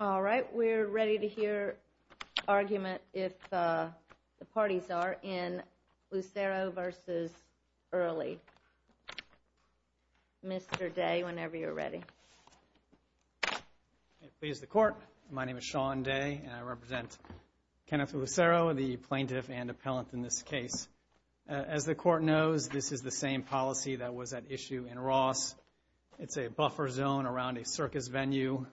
Alright, we're ready to hear argument if the parties are in Lucero v. Early. Mr. Day, whenever you're ready. Please the court. My name is Sean Day and I represent Kenneth Lucero, the plaintiff and appellant in this case. As the court knows, this is the same policy that was at issue in Ross. It's a buffer zone around a circus venue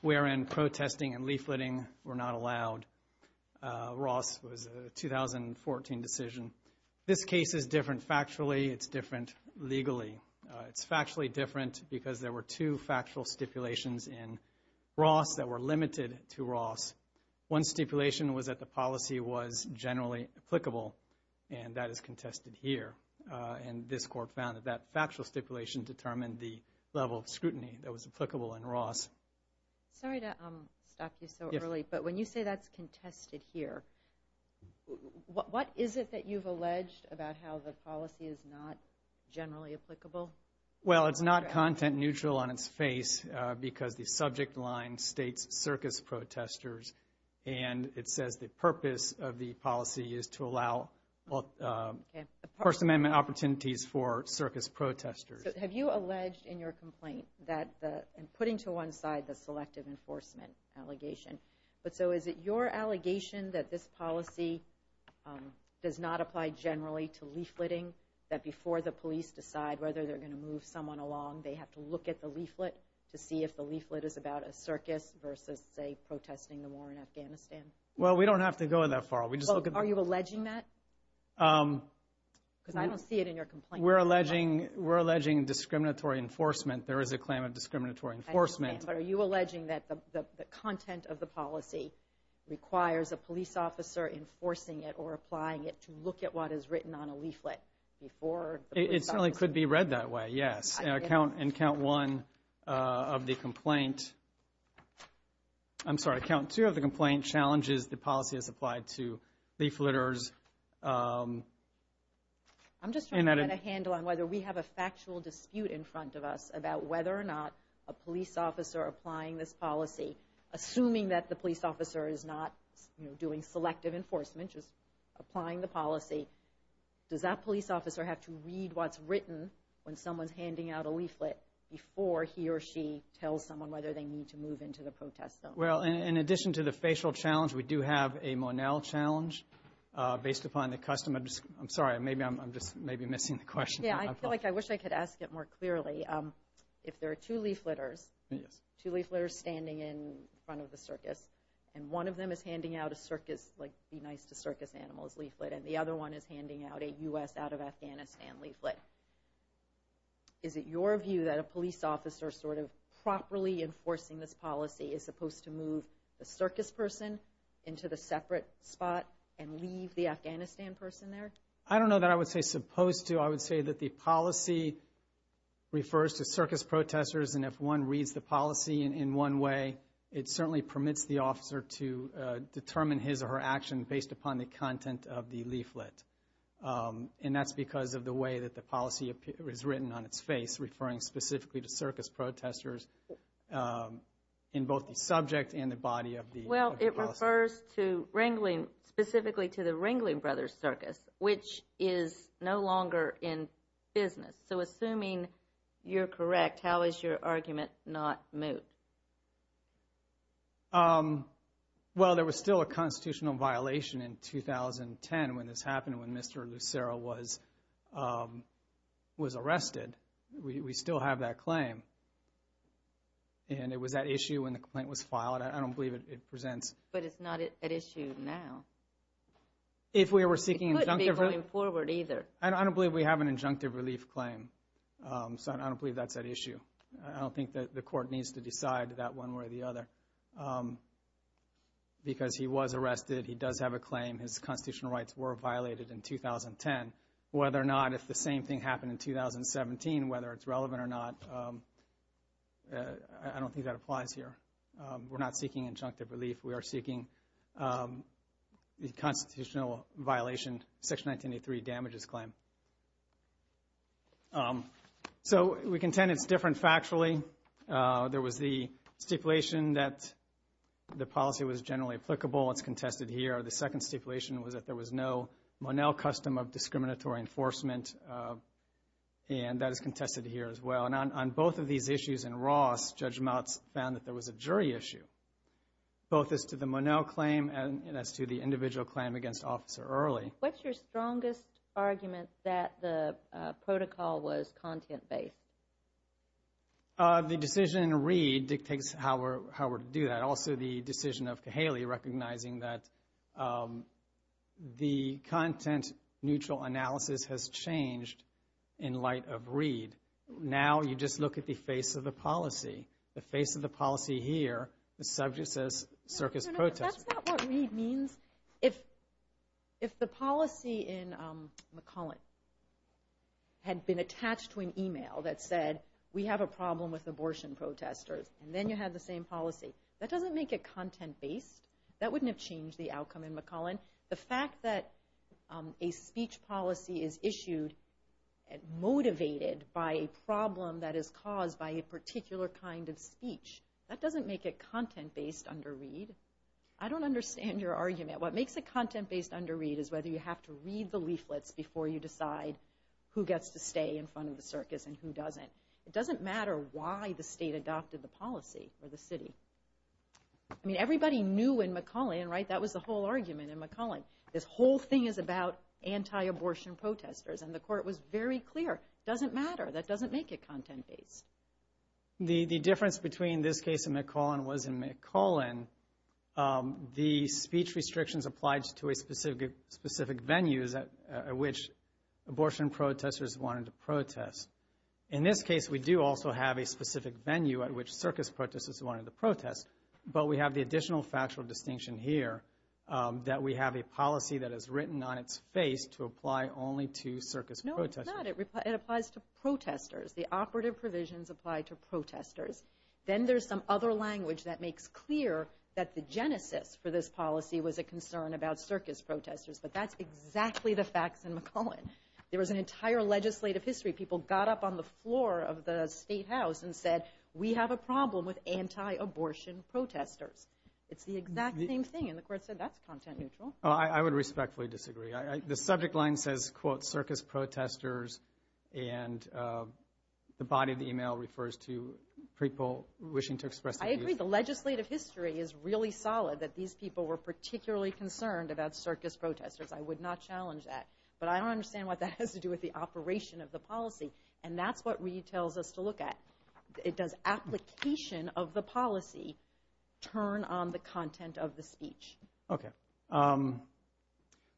wherein protesting and leafleting were not allowed. Ross was a 2014 decision. This case is different factually. It's different legally. It's factually different because there were two factual stipulations in Ross that were limited to Ross. One stipulation was that the policy was generally applicable, and that is contested here. And this court found that that factual stipulation determined the level of scrutiny that was applicable in Ross. Sorry to stop you so early, but when you say that's contested here, what is it that you've alleged about how the policy is not generally applicable? Well, it's not content neutral on its face because the subject line states circus protesters, and it says the purpose of the policy is to allow First Amendment opportunities for circus protesters. Have you alleged in your complaint that putting to one side the selective enforcement allegation, but so is it your allegation that this policy does not apply generally to leafleting, that before the police decide whether they're going to move someone along, they have to look at the leaflet to see if the leaflet is about a circus versus, say, protesting the war in Afghanistan? Well, we don't have to go that far. Are you alleging that? Because I don't see it in your complaint. We're alleging discriminatory enforcement. There is a claim of discriminatory enforcement. I understand, but are you alleging that the content of the policy requires a police officer enforcing it or applying it to look at what is written on a leaflet before the police officer? It certainly could be read that way, yes. And count one of the complaint—I'm sorry, count two of the complaint challenges the policy as applied to leafleters. I'm just trying to find a handle on whether we have a factual dispute in front of us about whether or not a police officer applying this policy, assuming that the police officer is not doing selective enforcement, just applying the policy. Does that police officer have to read what's written when someone's handing out a leaflet before he or she tells someone whether they need to move into the protest zone? Well, in addition to the facial challenge, we do have a Monell challenge based upon the custom. I'm sorry, maybe I'm just missing the question. Yeah, I feel like I wish I could ask it more clearly. If there are two leafleters, two leafleters standing in front of the circus, and one of them is handing out a circus, like, be nice to circus animals leaflet, and the other one is handing out a U.S. out of Afghanistan leaflet, is it your view that a police officer sort of properly enforcing this policy is supposed to move the circus person into the separate spot and leave the Afghanistan person there? I don't know that I would say supposed to. I would say that the policy refers to circus protesters, and if one reads the policy in one way, it certainly permits the officer to determine his or her action based upon the content of the leaflet. And that's because of the way that the policy is written on its face, referring specifically to circus protesters in both the subject and the body of the policy. Well, it refers to Ringling, specifically to the Ringling Brothers Circus, which is no longer in business. So assuming you're correct, how is your argument not moot? Well, there was still a constitutional violation in 2010 when this happened, when Mr. Lucero was arrested. We still have that claim, and it was at issue when the complaint was filed. I don't believe it presents. But it's not at issue now. It couldn't be going forward either. I don't believe we have an injunctive relief claim, so I don't believe that's at issue. I don't think that the court needs to decide that one way or the other because he was arrested. He does have a claim. His constitutional rights were violated in 2010. Whether or not if the same thing happened in 2017, whether it's relevant or not, I don't think that applies here. We're not seeking injunctive relief. We are seeking the constitutional violation, Section 1983 damages claim. So we contend it's different factually. There was the stipulation that the policy was generally applicable. It's contested here. The second stipulation was that there was no Monell custom of discriminatory enforcement, and that is contested here as well. And on both of these issues in Ross, Judge Motz found that there was a jury issue, both as to the Monell claim and as to the individual claim against Officer Early. What's your strongest argument that the protocol was content-based? The decision in Reed dictates how we're to do that. Also, the decision of Cahaley recognizing that the content-neutral analysis has changed in light of Reed. Now you just look at the face of the policy. The face of the policy here, the subject says circus protesters. That's not what Reed means. If the policy in McCullen had been attached to an email that said, we have a problem with abortion protesters, and then you have the same policy, that doesn't make it content-based. That wouldn't have changed the outcome in McCullen. The fact that a speech policy is issued and motivated by a problem that is caused by a particular kind of speech, that doesn't make it content-based under Reed. I don't understand your argument. What makes it content-based under Reed is whether you have to read the leaflets before you decide who gets to stay in front of the circus and who doesn't. It doesn't matter why the state adopted the policy or the city. I mean, everybody knew in McCullen, right? That was the whole argument in McCullen. This whole thing is about anti-abortion protesters, and the court was very clear. It doesn't matter. That doesn't make it content-based. The difference between this case in McCullen was in McCullen, the speech restrictions applied to a specific venue at which abortion protesters wanted to protest. In this case, we do also have a specific venue at which circus protesters wanted to protest, but we have the additional factual distinction here that we have a policy that is written on its face to apply only to circus protesters. No, it's not. It applies to protesters. The operative provisions apply to protesters. Then there's some other language that makes clear that the genesis for this policy was a concern about circus protesters, but that's exactly the facts in McCullen. There was an entire legislative history. People got up on the floor of the State House and said, we have a problem with anti-abortion protesters. It's the exact same thing, and the court said that's content-neutral. I would respectfully disagree. The subject line says, quote, circus protesters, and the body of the email refers to people wishing to express their views. I agree. The legislative history is really solid that these people were particularly concerned about circus protesters. I would not challenge that. But I don't understand what that has to do with the operation of the policy, and that's what Reed tells us to look at. It does application of the policy turn on the content of the speech. Okay.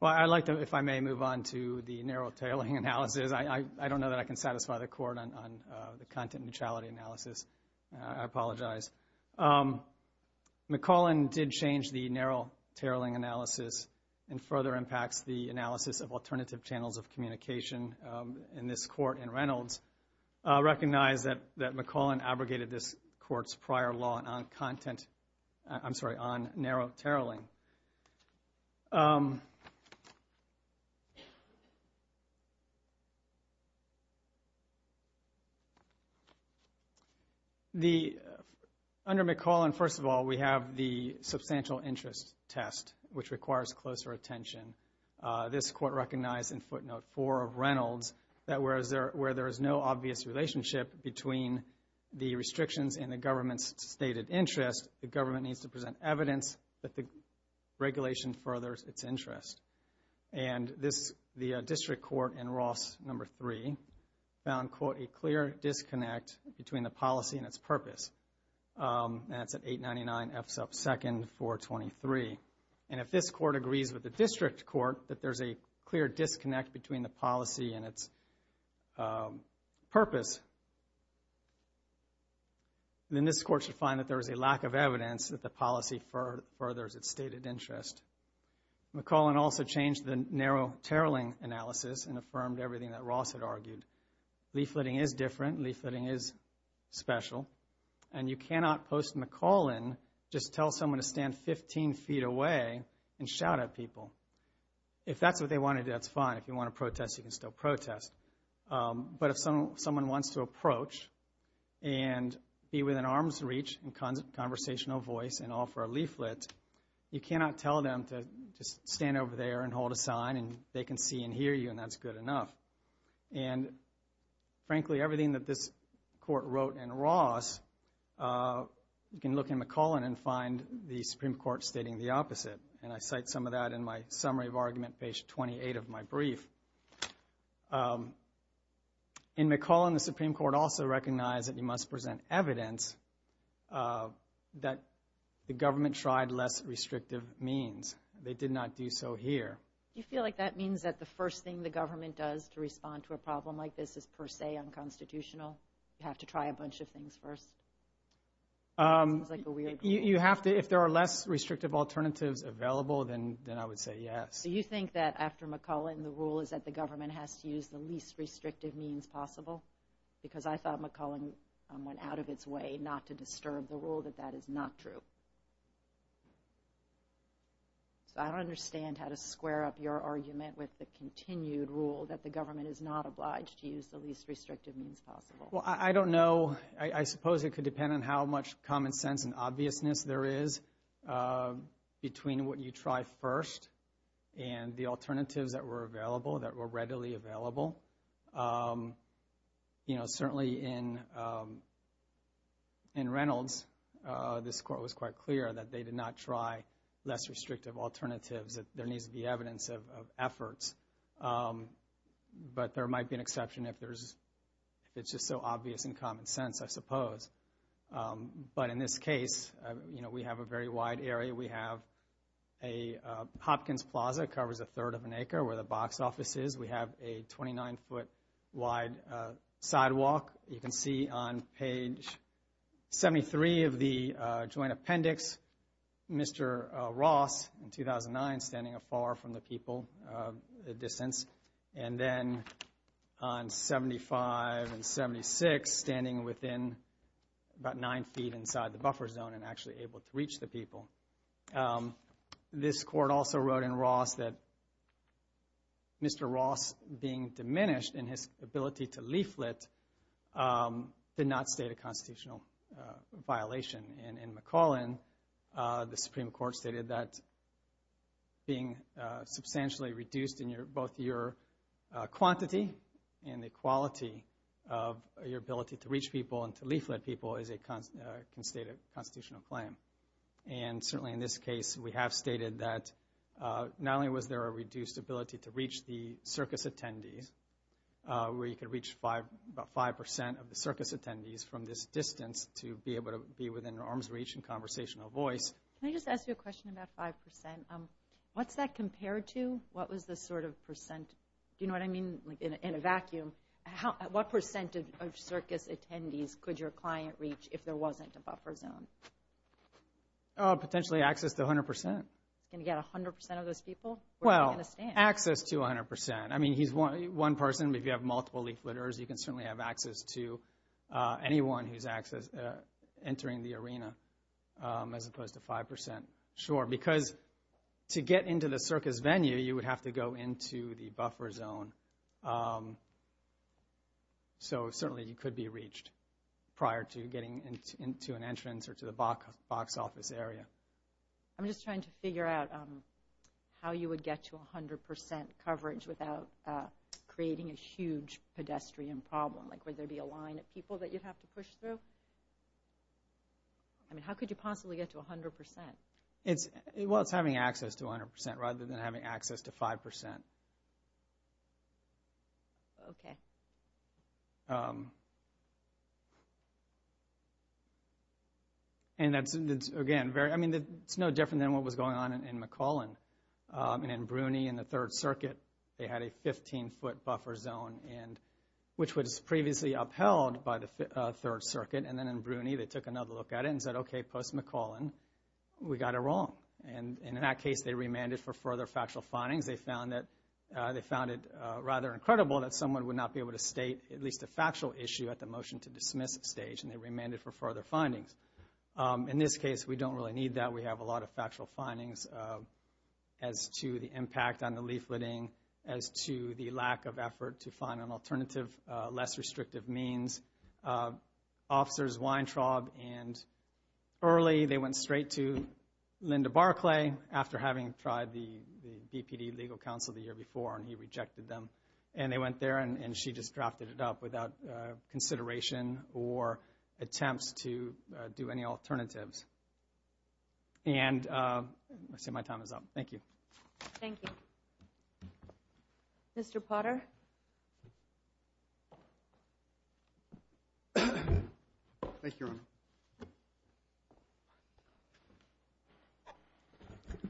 Well, I'd like to, if I may, move on to the narrow-tailing analysis. I don't know that I can satisfy the court on the content-neutrality analysis. I apologize. McCollin did change the narrow-tailing analysis and further impacts the analysis of alternative channels of communication in this court in Reynolds. I recognize that McCollin abrogated this court's prior law on content, I'm sorry, on narrow-tailing. Under McCollin, first of all, we have the substantial interest test, which requires closer attention. This court recognized in footnote four of Reynolds that where there is no obvious relationship between the restrictions and the government's stated interest, the government needs to present evidence that the regulation furthers its interest. And the district court in Ross number three found, quote, a clear disconnect between the policy and its purpose. That's at 899 F sub 2nd 423. And if this court agrees with the district court that there's a clear disconnect between the policy and its purpose, then this court should find that there is a lack of evidence that the policy furthers its stated interest. McCollin also changed the narrow-tailing analysis and affirmed everything that Ross had argued. Leafletting is different. Leafletting is special. And you cannot post in McCollin, just tell someone to stand 15 feet away and shout at people. If that's what they want to do, that's fine. If you want to protest, you can still protest. But if someone wants to approach and be within arm's reach and conversational voice and offer a leaflet, you cannot tell them to just stand over there and hold a sign and they can see and hear you, and that's good enough. And frankly, everything that this court wrote in Ross, you can look in McCollin and find the Supreme Court stating the opposite. And I cite some of that in my summary of argument page 28 of my brief. In McCollin, the Supreme Court also recognized that you must present evidence that the government tried less restrictive means. They did not do so here. Do you feel like that means that the first thing the government does to respond to a problem like this is per se unconstitutional? You have to try a bunch of things first? If there are less restrictive alternatives available, then I would say yes. So you think that after McCollin, the rule is that the government has to use the least restrictive means possible? Because I thought McCollin went out of its way not to disturb the rule that that is not true. So I don't understand how to square up your argument with the continued rule that the government is not obliged to use the least restrictive means possible. Well, I don't know. I suppose it could depend on how much common sense and obviousness there is between what you try first and the alternatives that were available, that were readily available. Certainly in Reynolds, this Court was quite clear that they did not try less restrictive alternatives. There needs to be evidence of efforts. But there might be an exception if it's just so obvious and common sense, I suppose. But in this case, we have a very wide area. We have a Hopkins Plaza. It covers a third of an acre where the box office is. We have a 29-foot wide sidewalk. You can see on page 73 of the joint appendix, Mr. Ross in 2009 standing afar from the people, a distance. And then on 75 and 76, standing within about nine feet inside the buffer zone and actually able to reach the people. This Court also wrote in Ross that Mr. Ross being diminished in his ability to leaflet did not state a constitutional violation. In McClellan, the Supreme Court stated that being substantially reduced in both your quantity and the quality of your ability to reach people and to leaflet people is a constated constitutional claim. And certainly in this case, we have stated that not only was there a reduced ability to reach the circus attendees, where you could reach about 5 percent of the circus attendees from this distance to be able to be within an arm's reach and conversational voice. Can I just ask you a question about 5 percent? What's that compared to? What was the sort of percent? Do you know what I mean? In a vacuum, what percent of circus attendees could your client reach if there wasn't a buffer zone? Potentially access to 100 percent. Can you get 100 percent of those people? Well, access to 100 percent. I mean, he's one person. If you have multiple leafleters, you can certainly have access to anyone who's entering the arena, as opposed to 5 percent. Sure, because to get into the circus venue, you would have to go into the buffer zone. So certainly you could be reached prior to getting into an entrance or to the box office area. I'm just trying to figure out how you would get to 100 percent coverage without creating a huge pedestrian problem. Would there be a line of people that you'd have to push through? How could you possibly get to 100 percent? Well, it's having access to 100 percent rather than having access to 5 percent. It's no different than what was going on in McClellan. In Bruny, in the Third Circuit, they had a 15-foot buffer zone, which was previously upheld by the Third Circuit. And then in Bruny, they took another look at it and said, okay, post-McClellan, we got it wrong. And in that case, they remanded for further factual findings. They found it rather incredible that someone would not be able to state at least a factual issue at the motion-to-dismiss stage, and they remanded for further findings. In this case, we don't really need that. We have a lot of factual findings as to the impact on the leafleting, as to the lack of effort to find an alternative, less restrictive means. Officers Weintraub and Early, they went straight to Linda Barclay after having tried the BPD legal counsel the year before, and he rejected them. And they went there, and she just drafted it up without consideration or attempts to do any alternatives. I see my time is up. Thank you. Thank you. Mr. Potter. Thank you, Your Honor.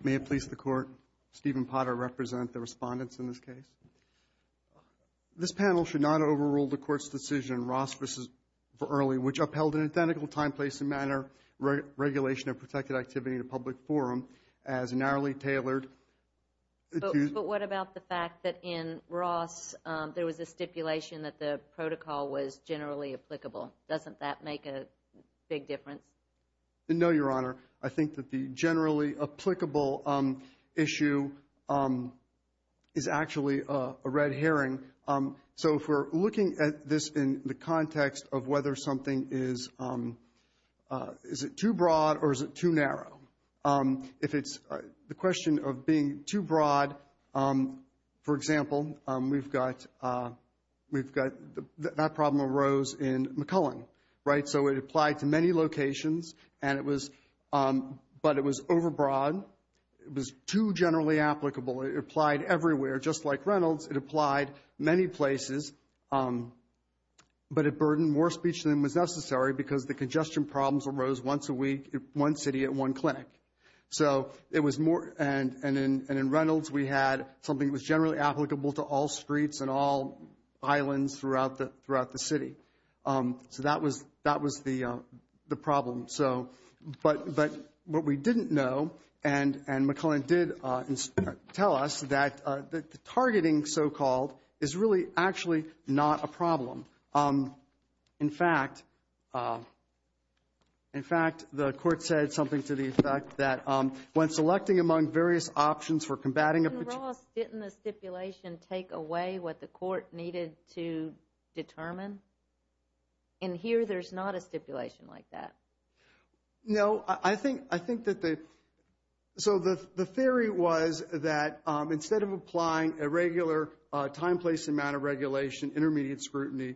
May it please the Court, Stephen Potter represent the respondents in this case. This panel should not overrule the Court's decision, Ross v. Early, which upheld an identical time, place, and manner regulation of protected activity in a public forum as narrowly tailored. But what about the fact that in Ross there was a stipulation that the protocol was generally applicable? Doesn't that make a big difference? No, Your Honor. I think that the generally applicable issue is actually a red herring. So if we're looking at this in the context of whether something is too broad or is it too narrow, if it's the question of being too broad, for example, we've got that problem arose in McClellan, right? So it applied to many locations, but it was overbroad. It was too generally applicable. It applied everywhere. Just like Reynolds, it applied many places, but it burdened more speech than was necessary because the congestion problems arose once a week in one city at one clinic. And in Reynolds we had something that was generally applicable to all streets and all islands throughout the city. So that was the problem. But what we didn't know, and McClellan did tell us, that the targeting, so-called, is really actually not a problem. In fact, the court said something to the effect that when selecting among various options for combating a... Didn't the stipulation take away what the court needed to determine? In here there's not a stipulation like that. No, I think that the... So the theory was that instead of applying a regular time, place, amount of regulation, intermediate scrutiny,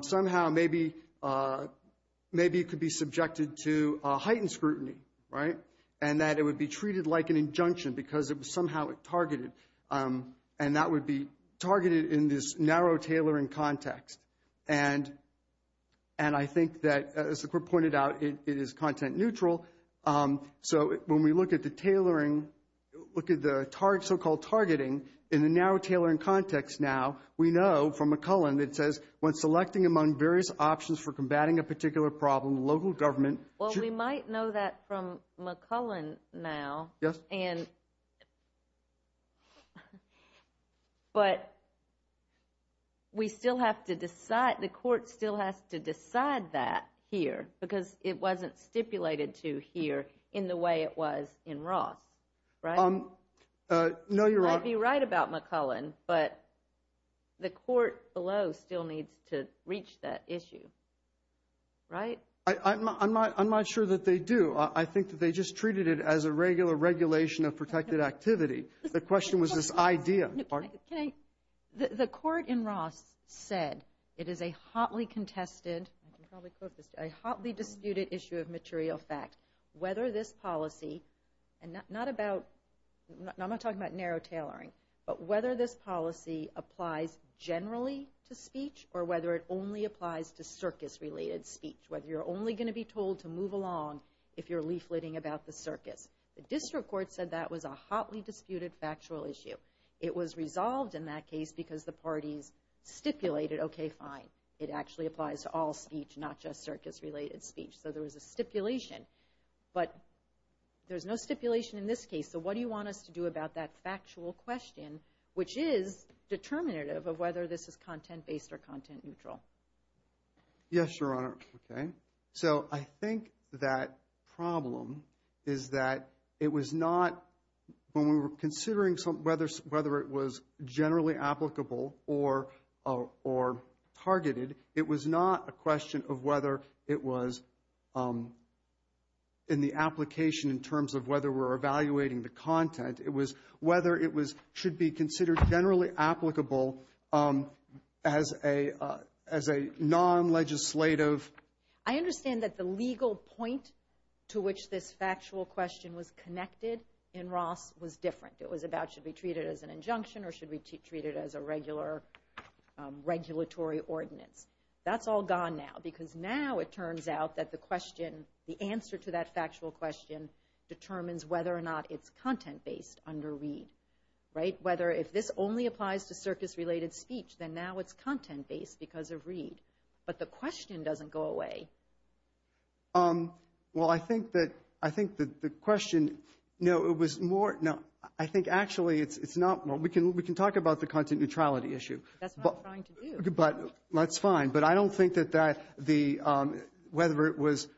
somehow maybe it could be subjected to heightened scrutiny, right? And that it would be treated like an injunction because it was somehow targeted. And that would be targeted in this narrow tailoring context. And I think that, as the court pointed out, it is content neutral. So when we look at the tailoring, look at the so-called targeting, in the narrow tailoring context now, we know from McClellan that says, when selecting among various options for combating a particular problem, local government... Well, we might know that from McClellan now. Yes. But we still have to decide, the court still has to decide that here because it wasn't stipulated to here in the way it was in Ross, right? No, you're right. You might be right about McClellan, but the court below still needs to reach that issue, right? I'm not sure that they do. I think that they just treated it as a regular regulation of protected activity. The question was this idea. The court in Ross said it is a hotly contested, I can probably quote this, a hotly disputed issue of material fact. Whether this policy, and I'm not talking about narrow tailoring, but whether this policy applies generally to speech, or whether it only applies to circus-related speech, whether you're only going to be told to move along if you're leafleting about the circus. The district court said that was a hotly disputed factual issue. It was resolved in that case because the parties stipulated, okay, fine. It actually applies to all speech, not just circus-related speech. So there was a stipulation, but there's no stipulation in this case. So what do you want us to do about that factual question, which is determinative of whether this is content-based or content-neutral? Yes, Your Honor. So I think that problem is that it was not, when we were considering whether it was generally applicable or targeted, it was not a question of whether it was in the application in terms of whether we're evaluating the content. It was whether it should be considered generally applicable as a non-legislative. I understand that the legal point to which this factual question was connected in Ross was different. It was about should we treat it as an injunction or should we treat it as a regular regulatory ordinance. That's all gone now, because now it turns out that the question, the answer to that factual question determines whether or not it's content-based under READ. If this only applies to circus-related speech, then now it's content-based because of READ. But the question doesn't go away. Well, I think that the question... We can talk about the content-neutrality issue. That's what I'm trying to do. But I don't think that whether it was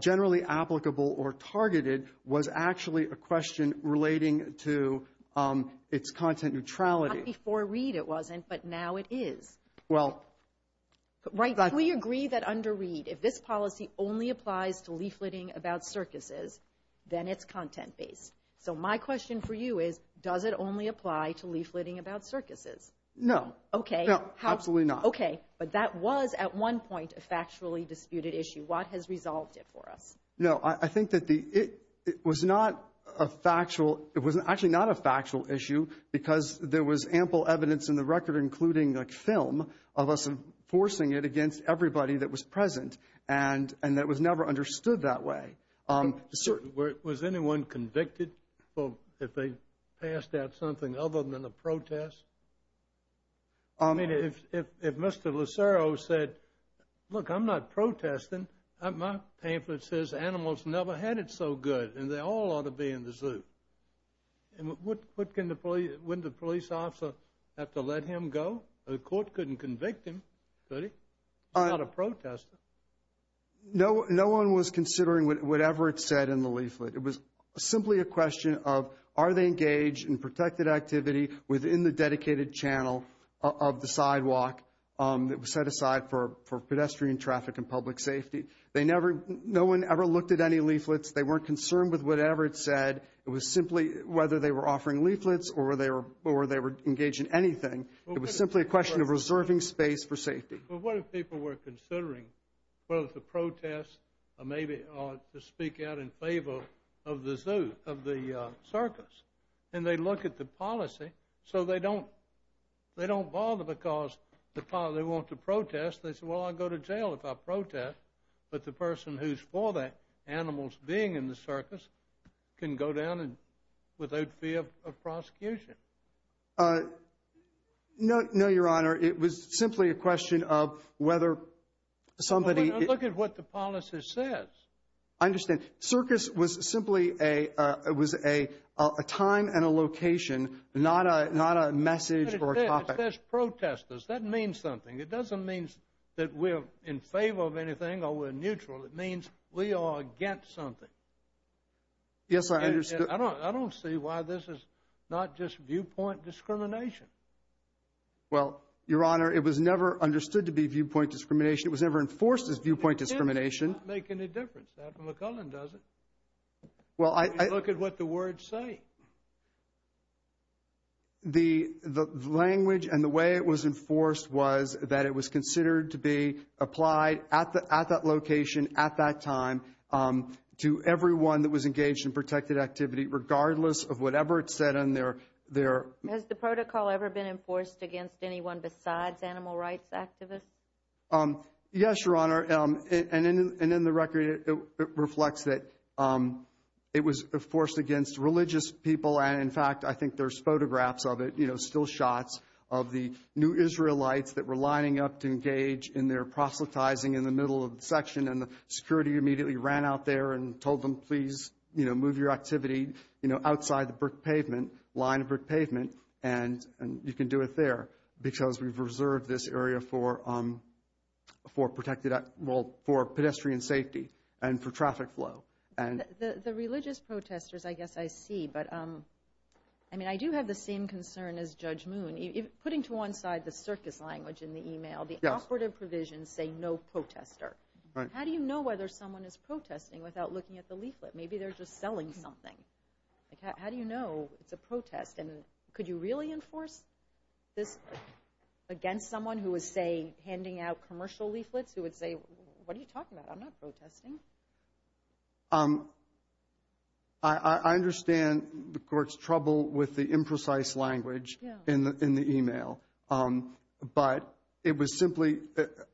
generally applicable or targeted was actually a question relating to its content-neutrality. Not before READ it wasn't, but now it is. We agree that under READ, if this policy only applies to leafletting about circuses, then it's content-based. So my question for you is, does it only apply to leafletting about circuses? No, absolutely not. Okay, but that was at one point a factually disputed issue. What has resolved it for us? No, I think that it was actually not a factual issue because there was ample evidence in the record, including the film, of us enforcing it against everybody that was present, and that was never understood that way. Was anyone convicted if they passed out something other than a protest? I mean, if Mr. Lucero said, look, I'm not protesting. My pamphlet says animals never had it so good, and wouldn't the police officer have to let him go? The court couldn't convict him, could he? He's not a protester. No one was considering whatever it said in the leaflet. It was simply a question of, are they engaged in protected activity within the dedicated channel of the sidewalk that was set aside for pedestrian traffic and public safety? No one ever looked at any leaflets. They weren't concerned with whatever it said. It was simply whether they were offering leaflets or they were engaged in anything. It was simply a question of reserving space for safety. But what if people were considering whether to protest or maybe to speak out in favor of the circus? And they look at the policy. So they don't bother because they want to protest. They say, well, I'll go to jail if I protest. But the person who's for the animals being in the circus can go down without fear of prosecution. No, Your Honor, it was simply a question of whether somebody Look at what the policy says. I understand. Circus was simply a time and a location, not a message or a topic. That means something. It doesn't mean that we're in favor of anything or we're neutral. It means we are against something. I don't see why this is not just viewpoint discrimination. Well, Your Honor, it was never understood to be viewpoint discrimination. It was never enforced as viewpoint discrimination. Well, I look at what the words say. The language and the way it was enforced was that it was considered to be applied at that location at that time to everyone that was engaged in It was never been enforced against anyone besides animal rights activists. Yes, Your Honor. And then the record reflects that it was forced against religious people. And in fact, I think there's photographs of it, still shots of the new Israelites that were lining up to engage in their proselytizing in the middle of the section. And the security immediately ran out there and told them, please move your activity outside the line of brick pavement and you can do it there because we've reserved this area for pedestrian safety and for traffic flow. The religious protesters, I guess I see, but I do have the same concern as Judge Moon. Putting to one side the circus language in the email, the operative leaflet. Maybe they're just selling something. How do you know it's a protest? And could you really enforce this against someone who is, say, handing out commercial leaflets who would say, what are you talking about? I'm not protesting. I understand the court's trouble with the imprecise language in the email. But it was simply,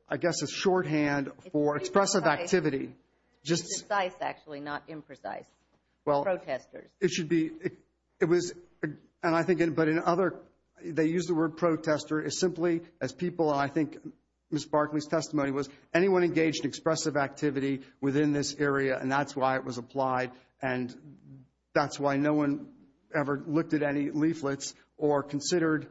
I guess, a shorthand for expressive activity. It's precise, actually, not imprecise. Protesters. They use the word protester simply as people, and I think Ms. Barkley's testimony was anyone engaged in expressive activity within this area, and that's why it was applied. And that's why no one ever looked at any leaflets or anything like that.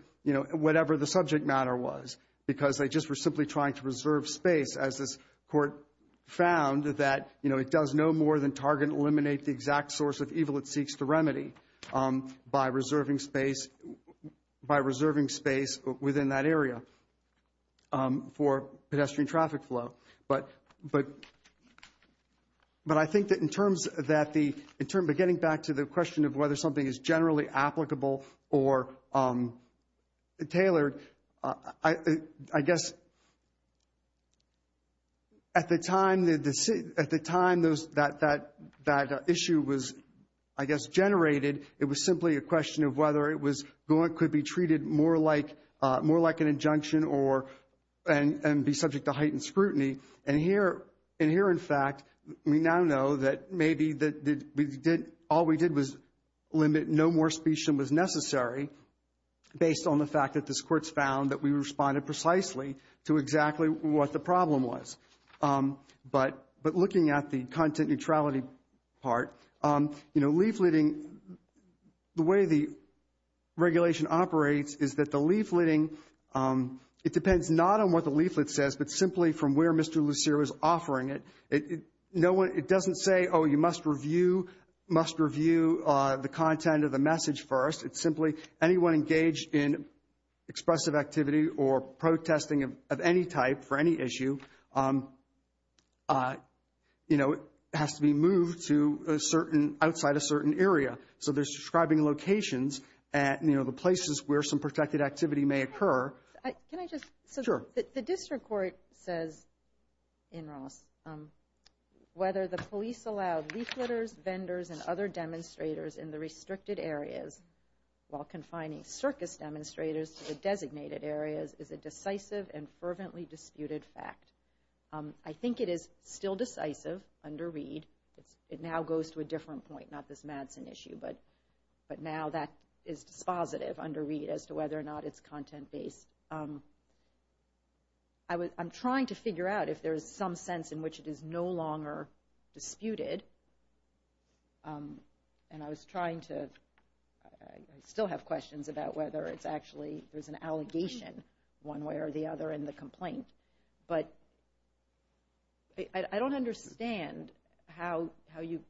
But I think that in terms that the, in terms of getting back to the question of whether something is generally applicable or tailored, I guess, at the time that issue was, I guess, generated, it was simply a question of whether it could be treated more like an injunction and be subject to heightened scrutiny. And here, in fact, we now know that maybe all we did was limit no more speech than was necessary based on the fact that this Court's found that we responded precisely to exactly what the problem was. But looking at the content neutrality part, leafleting, the way the regulation operates is that the leafleting, it depends not on what the leaflet says, but simply from where Mr. Lucero is offering it. It doesn't say, oh, you must review the content of the message first. It's simply anyone engaged in expressive activity or protesting of any type for any issue has to be moved to outside a certain area. So they're describing locations, the places where some protected activity may occur. Can I just? Sure. The District Court says, in Ross, whether the police allowed leafleters, vendors, and other demonstrators in the restricted areas while confining circus demonstrators to the designated areas is a decisive and fervently disputed fact. I think it is still decisive under Reed. It now goes to a different point, not this Madsen issue, but now that is dispositive under Reed as to whether or not it's content-based. I'm trying to figure out if there's some sense in which it is no longer disputed. And I was trying to, I still have questions about whether it's actually, there's an allegation one way or the other in the complaint. But I don't understand how you,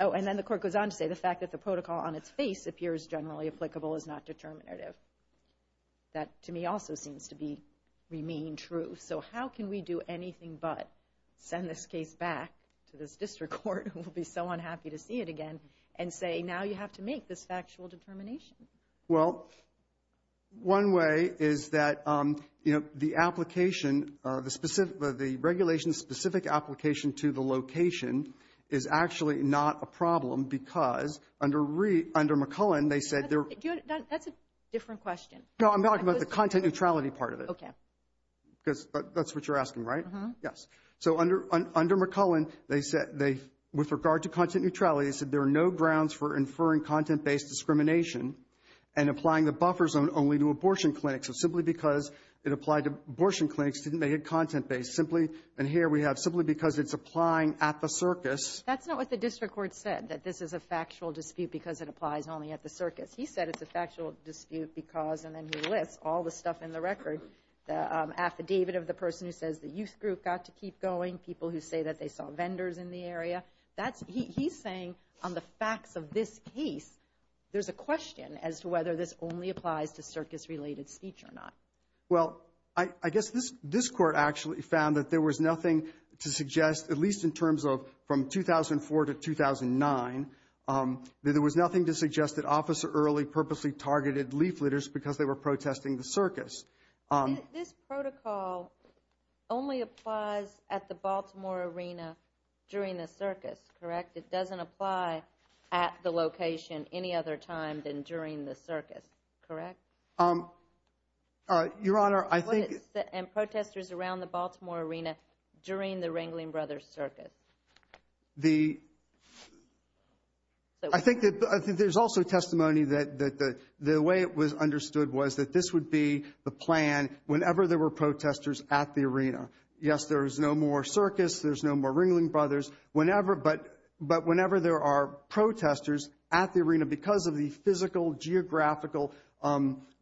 oh, and then the court goes on to say the fact that the protocol on its face appears generally applicable is not determinative. That, to me, also seems to be, remain true. So how can we do anything but send this case back to this District Court, who will be so unhappy to see it again, and say, now you have to make this factual determination? Well, one way is that the application, the regulation's specific application to the location is actually not a problem, because under McCullen, they said... That's a different question. No, I'm talking about the content neutrality part of it. Okay. Because that's what you're asking, right? Yes. So under McCullen, they said, with regard to content neutrality, they said there are no grounds for inferring because it applied to abortion clinics. Didn't they hit content-based simply? And here we have simply because it's applying at the circus. That's not what the District Court said, that this is a factual dispute because it applies only at the circus. He said it's a factual dispute because, and then he lists all the stuff in the record, the affidavit of the person who says the youth group got to keep going, people who say that they saw vendors in the area. That's, he's saying on the facts of this case, there's a question as to whether this only applies to circus-related speech or not. Well, I guess this Court actually found that there was nothing to suggest, at least in terms of from 2004 to 2009, that there was nothing to suggest that Officer Early purposely targeted leafleters because they were protesting at the location any other time than during the circus, correct? Your Honor, I think... And protesters around the Baltimore Arena during the Ringling Brothers Circus. I think that there's also testimony that the way it was understood was that this would be the plan whenever there were protesters at the arena. Yes, there is no more protesters at the arena because of the physical, geographical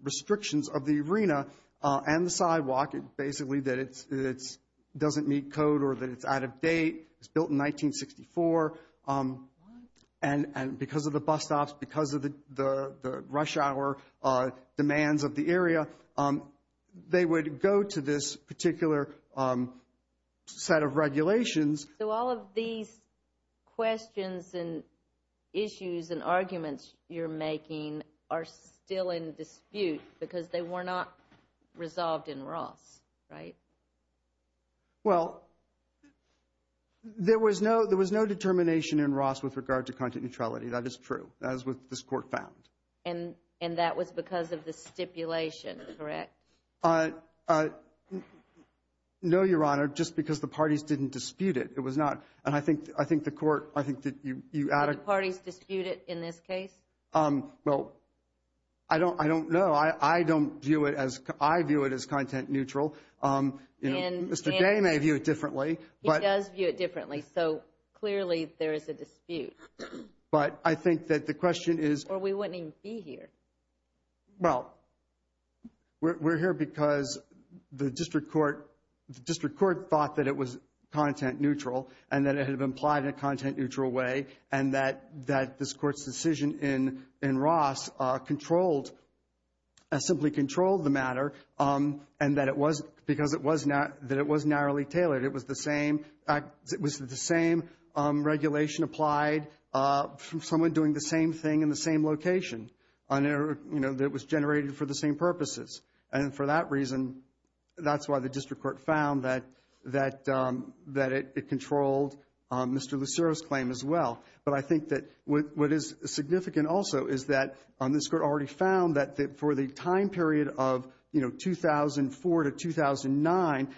restrictions of the arena and the sidewalk, basically that it doesn't meet code or that it's out of date. It was built in 1964, and because of the bus stops, because of the rush hour demands of the area, they would go to this particular set of regulations. So all of these questions and issues and arguments you're making are still in dispute because they were not resolved in Ross, right? There was no determination in Ross with regard to content neutrality. That is true. That is what this Court found. And that was because of the stipulation, correct? No, Your Honor, just because the parties didn't dispute it. It was not. And I think the Court, I think that you added... Did the parties dispute it in this case? Well, I don't know. I don't view it as... I view it as content neutral. Mr. Day may view it differently. He does view it differently, so clearly there is a dispute. But I think that the question is... Or we wouldn't even be here. Well, we're here because the District Court thought that it was content neutral and that it had been applied in a content neutral way and that this Court's decision in Ross simply controlled the matter because it was narrowly tailored. It was the same regulation applied from someone doing the same thing in the same location that was generated for the same purposes. And for that reason, that's why the District Court found that it controlled Mr. Lucero's claim as well. But I think that what is significant also is that this Court already found that for the time period of 2004 to 2009,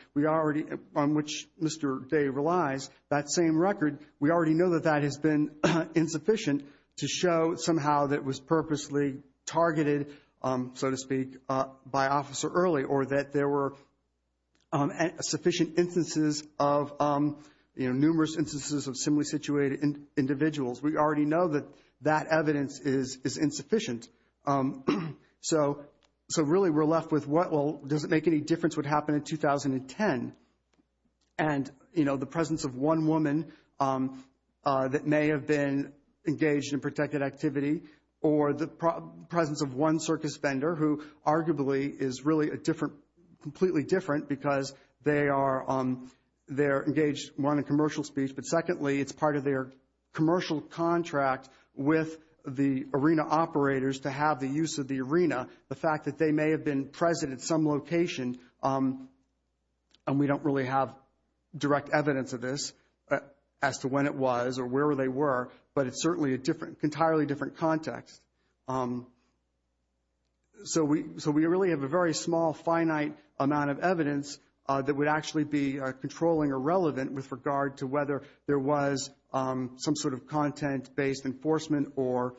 on which Mr. Day relies, that same record, we already know that that has been insufficient to show somehow that it was purposely targeted, so to speak, by officer early or that there were sufficient instances of, numerous instances of similarly situated individuals. We already know that that evidence is insufficient. So really we're left with, well, does it make any difference what happened in 2010? And the presence of one woman that may have been engaged in protected activity or the presence of one circus vendor who arguably is really completely different because they're engaged, one, in commercial speech, but secondly, it's part of their commercial contract with the arena operators to have the use of the arena. The fact that they may have been present at some location, and we don't really have direct evidence of this as to when it was or where they were, but it's certainly an entirely different context. So we really have a very small, finite amount of evidence that would actually be controlling or relevant with regard to whether there was some sort of content-based enforcement or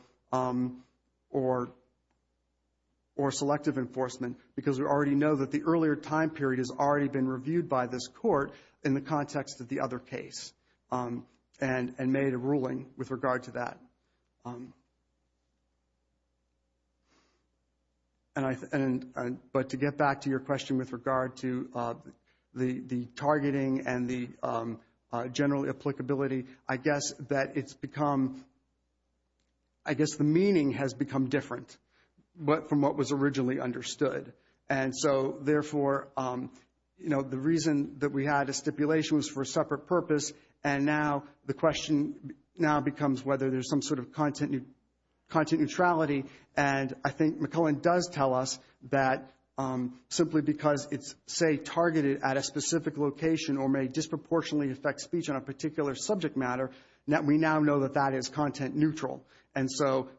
selective enforcement because we already know that the earlier time period has already been reviewed by this court in the context of the other case and made a ruling with regard to that. But to get back to your question with regard to the targeting and the general applicability, I guess that it's become, I guess the meaning has become different from what was originally understood. And so therefore, the reason that we had a stipulation was for a separate purpose, and now the question now becomes whether there's some sort of content neutrality. And I think McClellan does tell us that simply because it's, say, targeted at a specific location or may disproportionately affect speech on a particular subject matter, we now know that that is content neutral. And so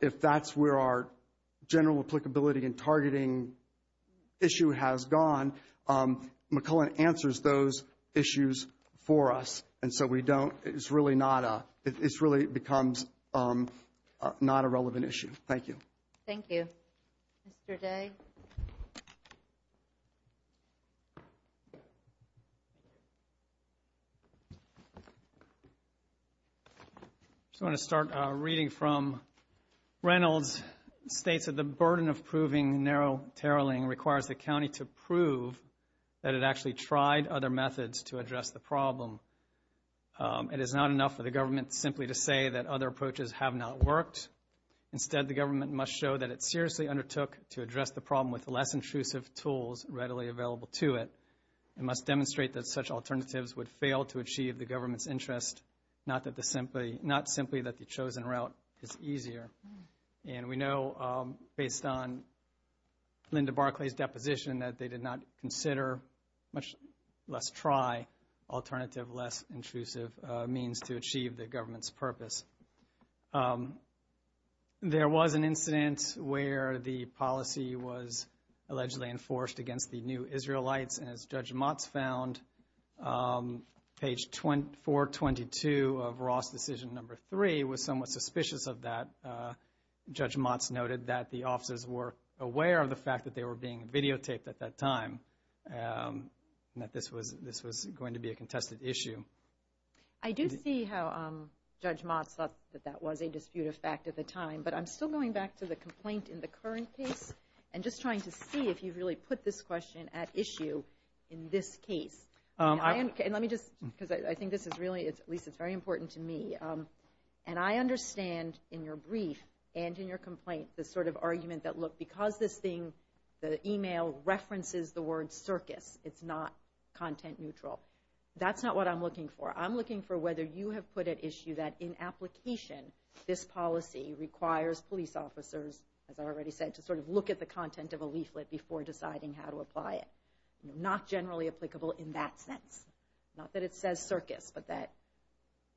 if that's where our focus has gone, McClellan answers those issues for us. And so we don't, it's really not a, it really becomes not a relevant issue. Thank you. I just want to start reading from Reynolds. It states that the burden of proving narrow tarreling requires the county to prove that it actually tried other methods to address the problem. It is not enough for the government simply to say that other approaches have not worked. Instead, the government must show that it seriously undertook to address the problem with less intrusive tools readily available to it. It must demonstrate that such alternatives would fail to achieve the government's interest, not simply that the chosen route is easier. And we know, based on Linda Barclay's deposition, that they did not consider, much less try, alternative, less intrusive means to achieve the government's purpose. There was an incident where the policy was allegedly enforced against the new Israelites, and as Judge Motz found, page 422 of Ross Decision No. 3 was somewhat suspicious of that. Judge Motz noted that the officers were aware of the fact that they were being videotaped at that time, and that this was going to be a contested issue. I do see how Judge Motz thought that that was a disputed fact at the time, but I'm still going back to the complaint in the current case and just trying to see if you've really put this question at issue in this case. And let me just, because I think this is really, at least it's very important to me, and I understand in your brief and in your complaint the sort of argument that, look, because this thing, the email references the word circus, it's not content neutral. That's not what I'm looking for. I'm looking for whether you have put at issue that in application this policy requires police officers, as I already said, to sort of look at the content of a leaflet before deciding how to apply it. Not generally applicable in that sense. Not that it says circus, but that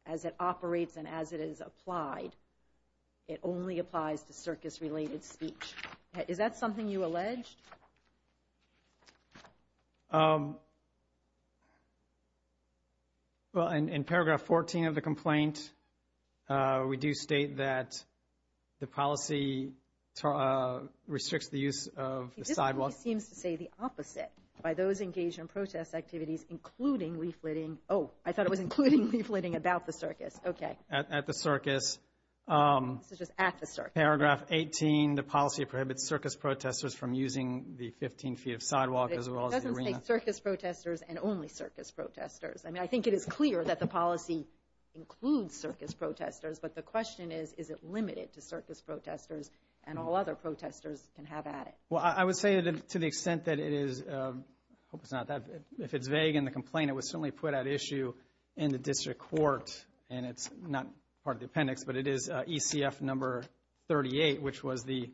as it operates and as it is applied, it only applies to circus- related speech. Is that something you alleged? Well, in paragraph 14 of the complaint, we do state that the policy restricts the use of the sidewalk. This seems to say the opposite by those engaged in protest activities, including leafletting. Oh, I thought it was including leafletting about the circus. Okay. At the circus. This is just at the circus. Paragraph 18, the policy prohibits circus protestors from using the 15 feet of sidewalk as well as the arena. But it doesn't say circus protestors and only circus protestors. I mean, I think it is clear that the policy includes circus protestors, but the question is, is it limited to circus protestors and all other protestors can have at it? Well, I would say to the extent that it is, I hope it's not that, if it's vague in the complaint, it was certainly put at issue in the district court, and it's not part of the appendix, but it is ECF number 38, which was the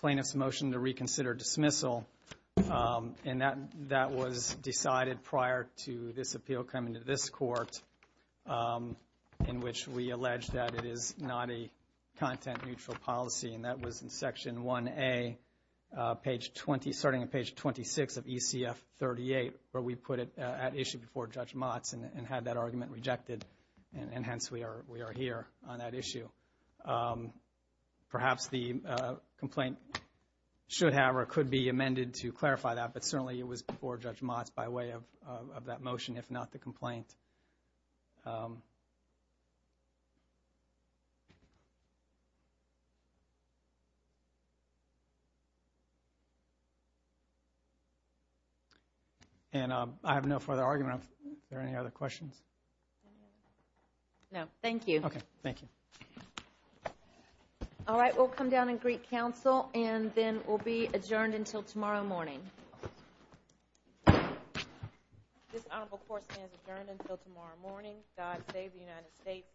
plaintiff's motion to reconsider dismissal. And that was decided prior to this appeal coming to this court, in which we allege that it is not a content-neutral policy. And that was in section 1A, starting on page 26 of ECF 38, where we put it at issue before Judge Motz and had that argument rejected, and hence we are here on that issue. Perhaps the complaint should have or could be amended to clarify that, but certainly it was before Judge Motz by way of that motion, if not the complaint. And I have no further argument. Are there any other questions? No, thank you. Okay, thank you. Alright, we'll come down and greet counsel, and then we'll be adjourned until tomorrow morning. This Honorable Court stands adjourned until tomorrow morning. God save the United States and the Honorable Court. Thank you.